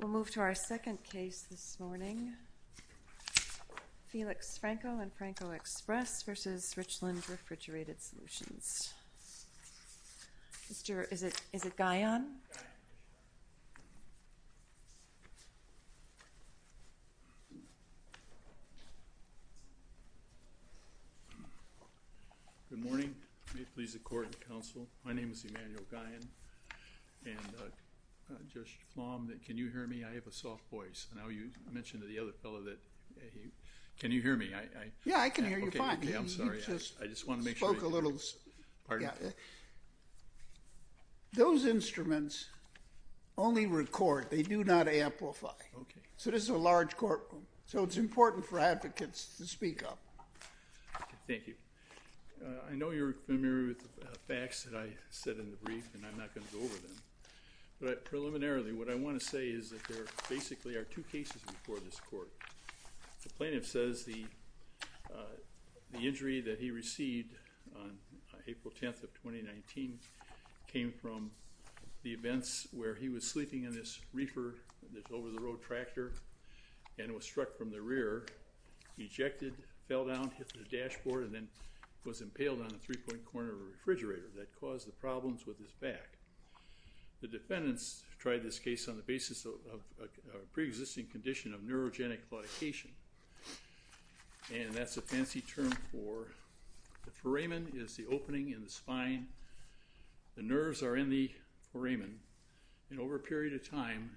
We'll move to our second case this morning, Felix Franco and Franco Express v. Richland Refrigerated Solutions. Mr. is it is it Guyon? Good morning. May it please the court and counsel. My name is Emanuel Guyon and Judge Flom, can you hear me? I have a soft voice. Now you mentioned to the other fellow that he, can you hear me? Yeah I can hear you fine. I'm sorry I just want to make sure. Those instruments only record, they do not amplify. Okay. So this is a large courtroom, so it's important for advocates to speak up. Thank you. I know you're familiar with the facts that I said in the brief and I'm not going to go over them, but preliminarily what I want to say is that there basically are two cases before this court. The plaintiff says the the injury that he received on April 10th of 2019 came from the events where he was sleeping in this reefer, this over-the-road tractor, and was struck from the rear, ejected, fell down, hit the dashboard, and then was impaled on a three-point corner of a refrigerator that caused the problems with his back. The defendants tried this case on the basis of a pre-existing condition of neurogenic claudication, and that's a fancy term for, the foramen is the opening in the spine, the nerves are in the foramen, and over a period of time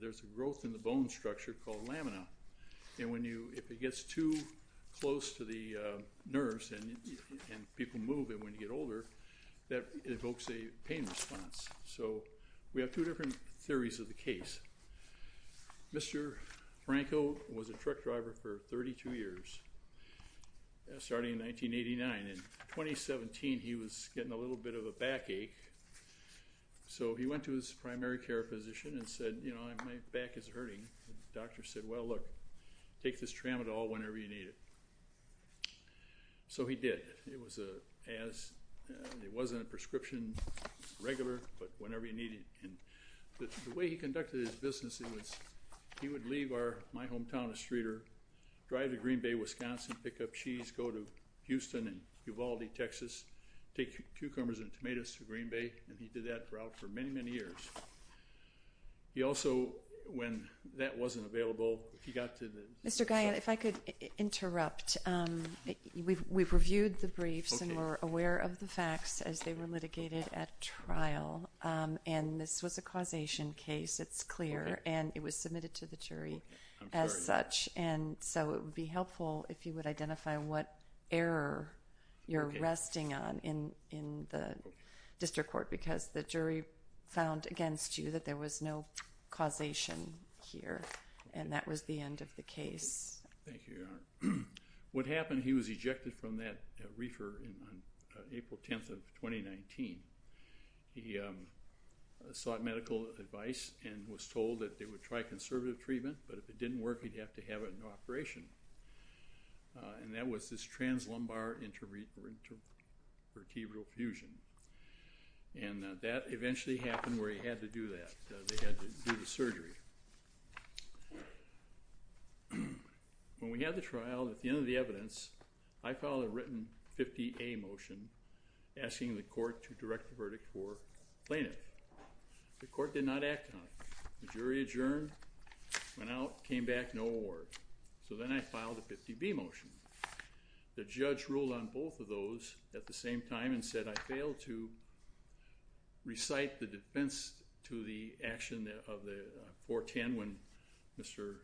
there's a growth in the bone structure called lamina, and when you, if it gets too close to the nerves and people move it when you get older, that evokes a pain response. So we have two different theories of the case. Mr. Franco was a truck driver for 32 years, starting in 1989. In 2017 he was getting a little bit of a backache, so he went to his primary care physician and said, you know, my back is hurting. The doctor said, well look, take this tramadol whenever you need it. So he did. It was a, as, it wasn't a prescription, regular, but whenever you need it. And the way he conducted his business, it was, he would leave our, my hometown of Streeter, drive to Green Bay, Wisconsin, pick up cheese, go to Houston and Uvalde, Texas, take cucumbers and tomatoes to Green Bay, and he did that route for many, many years. He also, when that wasn't available, he got to the- Mr. Guyon, if I could interrupt. We've reviewed the briefs and we're aware of the facts as they were litigated at trial, and this was a causation case, it's clear, and it was submitted to the jury as such, and so it would be helpful if you would identify what error you're resting on in, in the district court, because the jury found against you that there was no causation here, and that was the end of the case. Thank you, Your Honor. What happened, he was ejected from that reefer on April 10th of 2019. He sought medical advice and was told that they would try conservative treatment, but if it didn't work, he'd have to have it in operation, and that was this translumbar intervertebral fusion, and that eventually happened where he had to do that. They had to do the surgery. When we had the trial, at the end of the evidence, I filed a written 50A motion asking the court to direct the verdict for plaintiff. The court did not act on it. The jury adjourned, went out, came back, no award. So then I filed a 50B motion. The judge ruled on both of those at the same time and said I failed to recite the defense to the action of the 410 when Mr.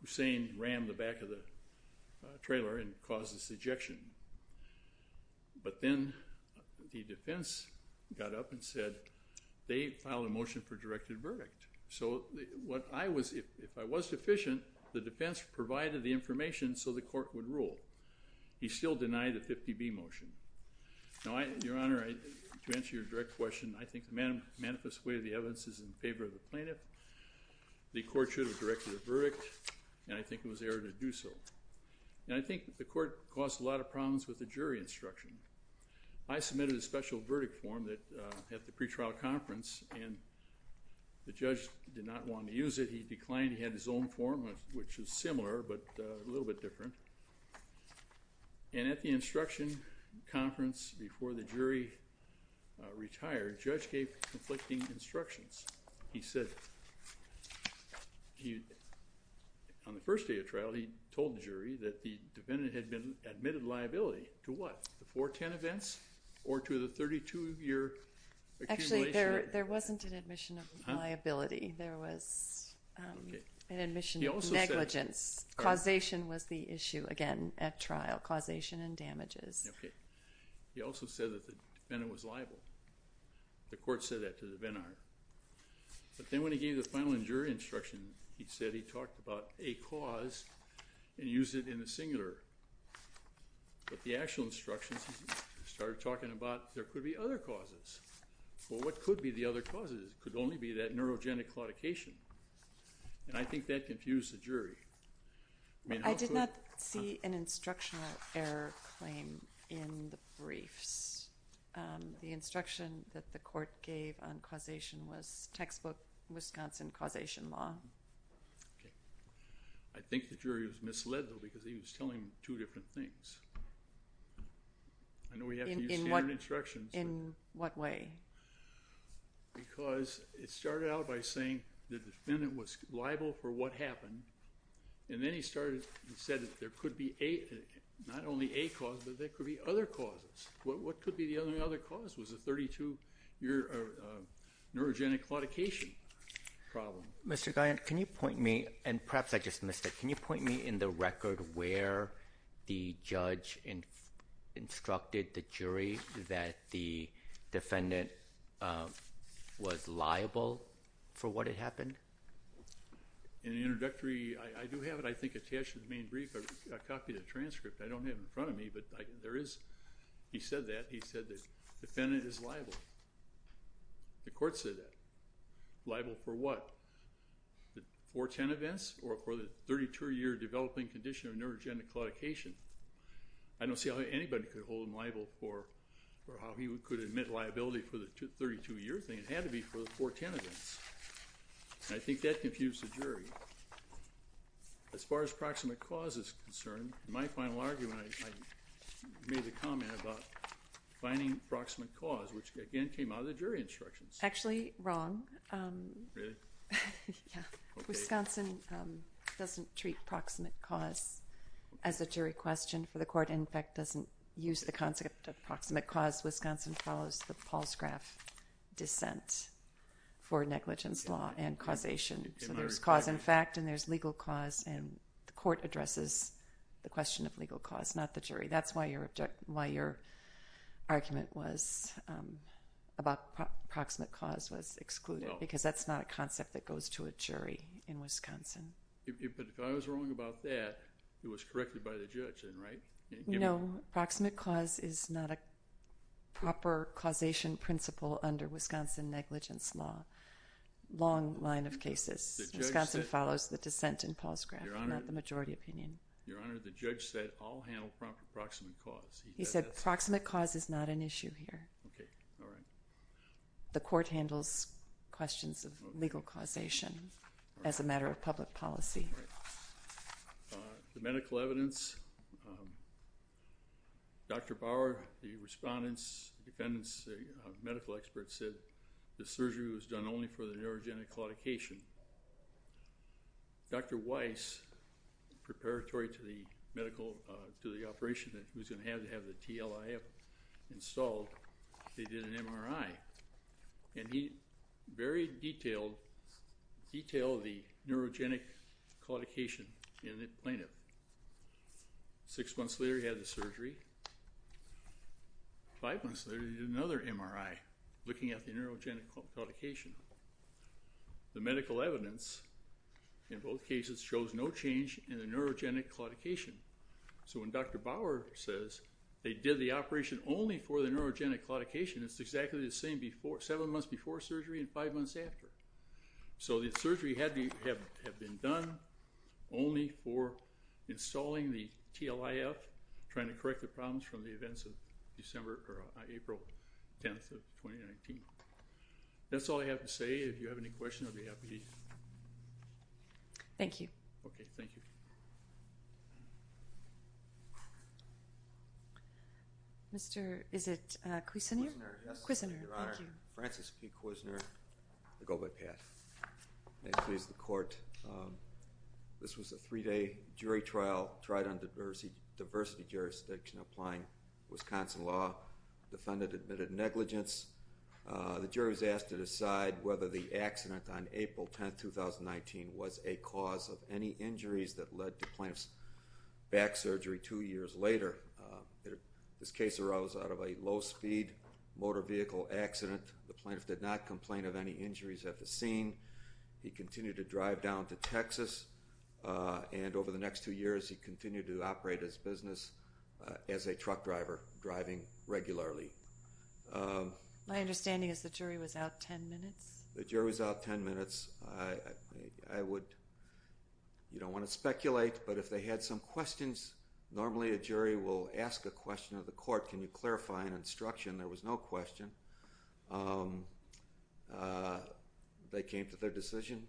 Hussain rammed the back of the trailer and caused this ejection, but then the defense got up and said they filed a motion for directed verdict. So what I was, if I was deficient, the defense provided the information so the court would rule. He still denied the 50B motion. Now, Your Honor, to answer your direct question, I think the manifest way of the evidence is in favor of the plaintiff. The court should have directed a verdict, and I think it was error to do so, and I think the court caused a lot of problems with the jury instruction. I submitted a special verdict form that at the pretrial conference, and the judge did not want to but a little bit different, and at the instruction conference before the jury retired, judge gave conflicting instructions. He said he, on the first day of trial, he told the jury that the defendant had been admitted liability to what? The 410 events or to the 32 year? Actually, there wasn't an admission of causation was the issue again at trial, causation and damages. Okay, he also said that the defendant was liable. The court said that to the venner, but then when he gave the final jury instruction, he said he talked about a cause and used it in the singular, but the actual instructions started talking about there could be other causes. Well, what could be the other causes? It could only be that I did not see an instructional error claim in the briefs. The instruction that the court gave on causation was textbook Wisconsin causation law. I think the jury was misled though because he was telling two different things. In what way? Because it started out by saying the defendant was liable for what happened, and then he started and said that there could be a not only a cause, but there could be other causes. Well, what could be the other other cause was a 32 year neurogenic claudication problem. Mr. Guyant, can you point me, and perhaps I just missed it, can you point me in the record where the judge and instructed the jury that the defendant was liable for what had happened? In the introductory, I do have it I think attached to the main brief, a copy of the transcript. I don't have in front of me, but there is, he said that, he said that defendant is liable. The court said that. Liable for what? The 410 events or for the 32 year developing condition of neurogenic claudication? I don't see how anybody could hold him liable for or how he could admit liability for the 32 year thing. It had to be for the 410 events. I think that confused the jury. As far as proximate cause is concerned, my final argument, I made a comment about finding proximate cause, which again came out of the jury instructions. Actually, wrong. Wisconsin doesn't treat proximate cause as a jury question for the court, in fact, doesn't use the concept of proximate cause. Wisconsin follows the for negligence law and causation. So there's cause in fact and there's legal cause and the court addresses the question of legal cause, not the jury. That's why your argument was about proximate cause was excluded, because that's not a concept that goes to a jury in Wisconsin. But if I was wrong about that, it was corrected by the judge, right? No, proximate cause is not a negligence law. Long line of cases. Wisconsin follows the dissent in Paul's graph, not the majority opinion. Your Honor, the judge said I'll handle proximate cause. He said proximate cause is not an issue here. Okay, all right. The court handles questions of legal causation as a matter of public policy. The medical evidence, Dr. Bauer, the respondents, the medical experts said the surgery was done only for the neurogenic claudication. Dr. Weiss, preparatory to the medical, to the operation that he was going to have to have the TLIF installed, they did an MRI. And he very detailed, detailed the neurogenic claudication in the plaintiff. Six months later he had the surgery. Five months later he did another MRI looking at the neurogenic claudication. The medical evidence in both cases shows no change in the neurogenic claudication. So when Dr. Bauer says they did the operation only for the neurogenic claudication, it's exactly the same before, seven months before surgery and five months after. So the surgery had to have been done only for installing the TLIF, trying to correct the problems from the events of December or April 10th of 2019. That's all I have to say. If you have any questions, I'll be happy. Thank you. Okay, thank you. Mr., is it Kuisner? Kuisner, yes. Kuisner, thank you. Your Honor, Francis P. Kuisner, I go by Pat. May it please the court. This was a three-day jury trial tried on diversity, jurisdiction applying Wisconsin law. Defendant admitted negligence. The jury was asked to decide whether the accident on April 10th, 2019 was a cause of any injuries that led to plaintiff's back surgery two years later. This case arose out of a low-speed motor vehicle accident. The plaintiff did not complain of any injuries at the scene. He continued to drive down to Texas and over the next two years he continued to operate his business as a truck driver, driving regularly. My understanding is the jury was out ten minutes? The jury was out ten minutes. I would, you don't want to speculate, but if they had some questions, normally a jury will ask a question of the court. Can you clarify an instruction? There was no question. They came to their decision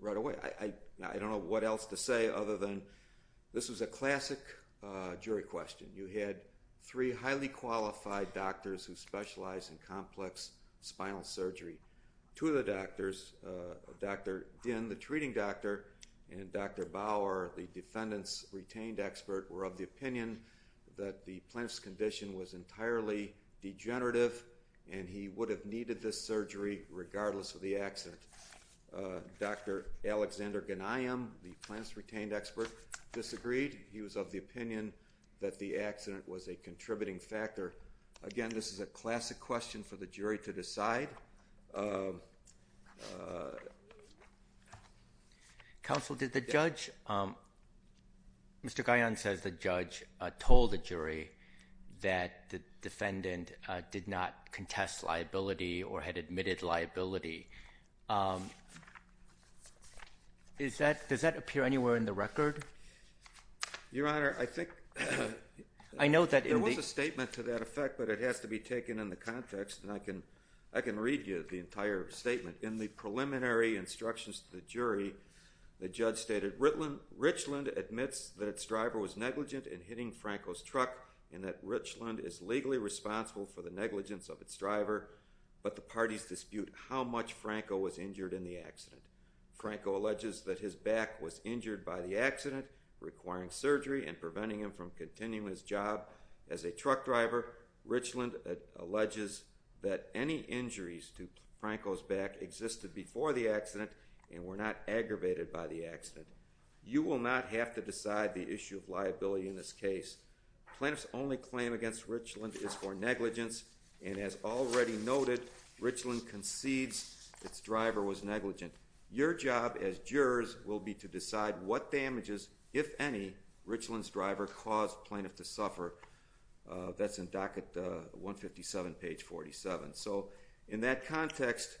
right away. I this was a classic jury question. You had three highly qualified doctors who specialize in complex spinal surgery. Two of the doctors, Dr. Dinh, the treating doctor, and Dr. Bauer, the defendant's retained expert, were of the opinion that the plaintiff's condition was entirely degenerative and he would have needed this surgery regardless of the accident. Dr. Alexander Ghanayim, the plaintiff's retained expert, disagreed. He was of the opinion that the accident was a contributing factor. Again, this is a classic question for the jury to decide. Counsel, did the judge, Mr. Ghanayim says the judge told the jury that the defendant did not contest liability or had admitted liability. Does that appear anywhere in the record? Your Honor, I think I know that there was a statement to that effect, but it has to be taken in the context and I can read you the entire statement. In the preliminary instructions to the jury, the judge stated Richland admits that its driver was negligent in hitting Franco's truck and that Richland is legally responsible for the negligence of its driver, but the parties dispute how much Franco was back was injured by the accident requiring surgery and preventing him from continuing his job as a truck driver. Richland alleges that any injuries to Franco's back existed before the accident and were not aggravated by the accident. You will not have to decide the issue of liability in this case. Plaintiff's only claim against Richland is for negligence and as already noted, Richland concedes its driver was negligent. Your job as jurors will be to decide what damages, if any, Richland's driver caused plaintiff to suffer. That's in docket 157 page 47. So in that context,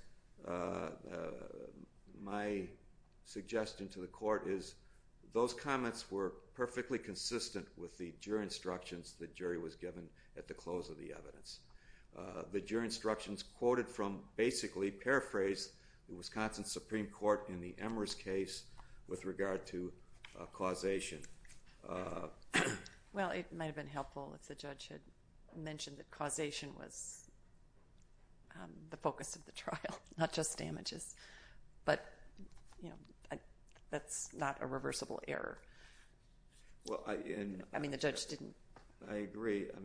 my suggestion to the court is those comments were perfectly consistent with the jury instructions the jury was quoted from basically paraphrase the Wisconsin Supreme Court in the Emmer's case with regard to causation. Well it might have been helpful if the judge had mentioned that causation was the focus of the trial, not just damages, but you know that's not a reversible error. I mean the judge didn't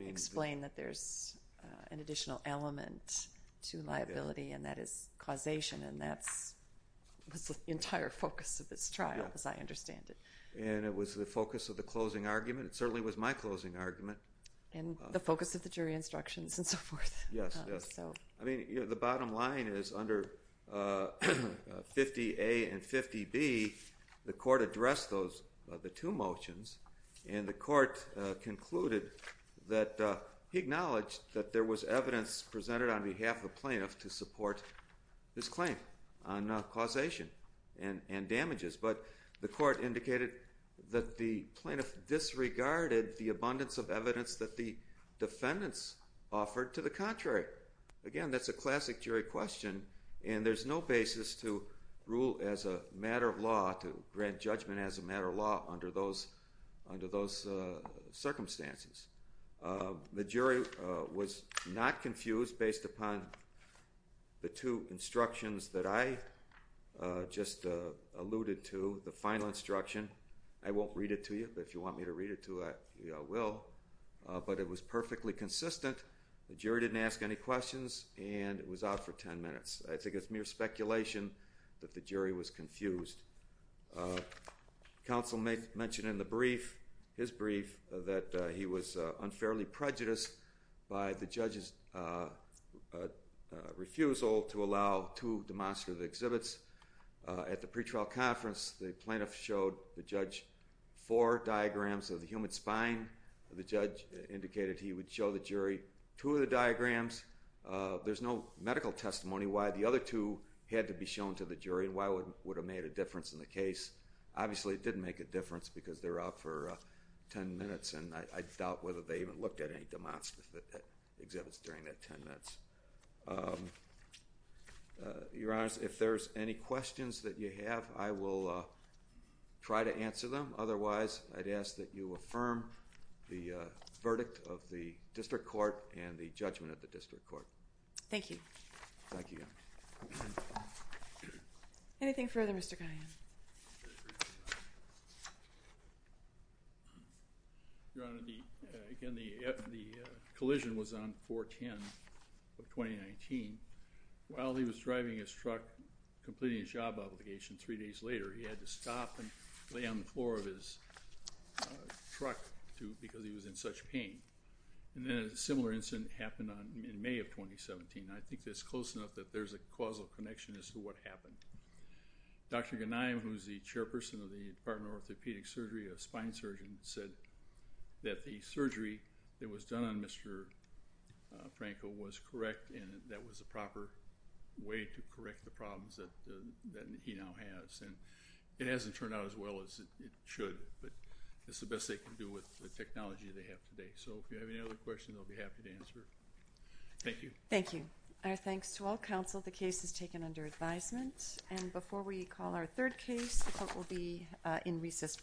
explain that there's an additional element to liability and that is causation and that's the entire focus of this trial as I understand it. And it was the focus of the closing argument, it certainly was my closing argument. And the focus of the jury instructions and so forth. Yes, yes. I mean the bottom line is under 50A and he acknowledged that there was evidence presented on behalf of the plaintiff to support his claim on causation and and damages but the court indicated that the plaintiff disregarded the abundance of evidence that the defendants offered to the contrary. Again that's a classic jury question and there's no basis to rule as a matter of law to grant judgment as a matter of law under those under those circumstances. The jury was not confused based upon the two instructions that I just alluded to, the final instruction. I won't read it to you but if you want me to read it to you I will. But it was perfectly consistent, the jury didn't ask any questions and it was out for 10 minutes. I think it's mere speculation that the jury was confused. Counsel may mention in the brief, his brief, that he was unfairly prejudiced by the judge's refusal to allow two demonstrative exhibits. At the pretrial conference the plaintiff showed the judge four diagrams of the human spine. The judge indicated he would show the jury two of the diagrams. There's no medical testimony why the other two had to be shown to the jury and why would would have made a difference in the case. Obviously it didn't make a difference because they're out for 10 minutes and I doubt whether they even looked at any demonstrative exhibits during that 10 minutes. Your Honor, if there's any questions that you have I will try to answer them otherwise I'd ask that you affirm the verdict of the district court and the judgment of the district court. Thank you. Thank you. Anything further Mr. Guyon? Your Honor, again the collision was on 4-10 of 2019. While he was driving his truck completing his job obligation three days later he had to stop and lay on the floor of his truck because he was in such pain. And then a similar incident happened on in May of 2017. I think that's close enough that there's a causal connection as to what happened. Dr. Ghanaian, who's the chairperson of the Department of Orthopedic Surgery, a spine surgeon, said that the surgery that was done on Mr. Franco was correct and that was a proper way to correct the problems that he now has. And it hasn't turned out as well as it should but it's the best they can do with the technology they have today. So if you have any other questions I'll be happy to answer. Thank you. Thank you. Our thanks to all counsel. The case is taken under advisement and before we call our third case, the court will be in recess.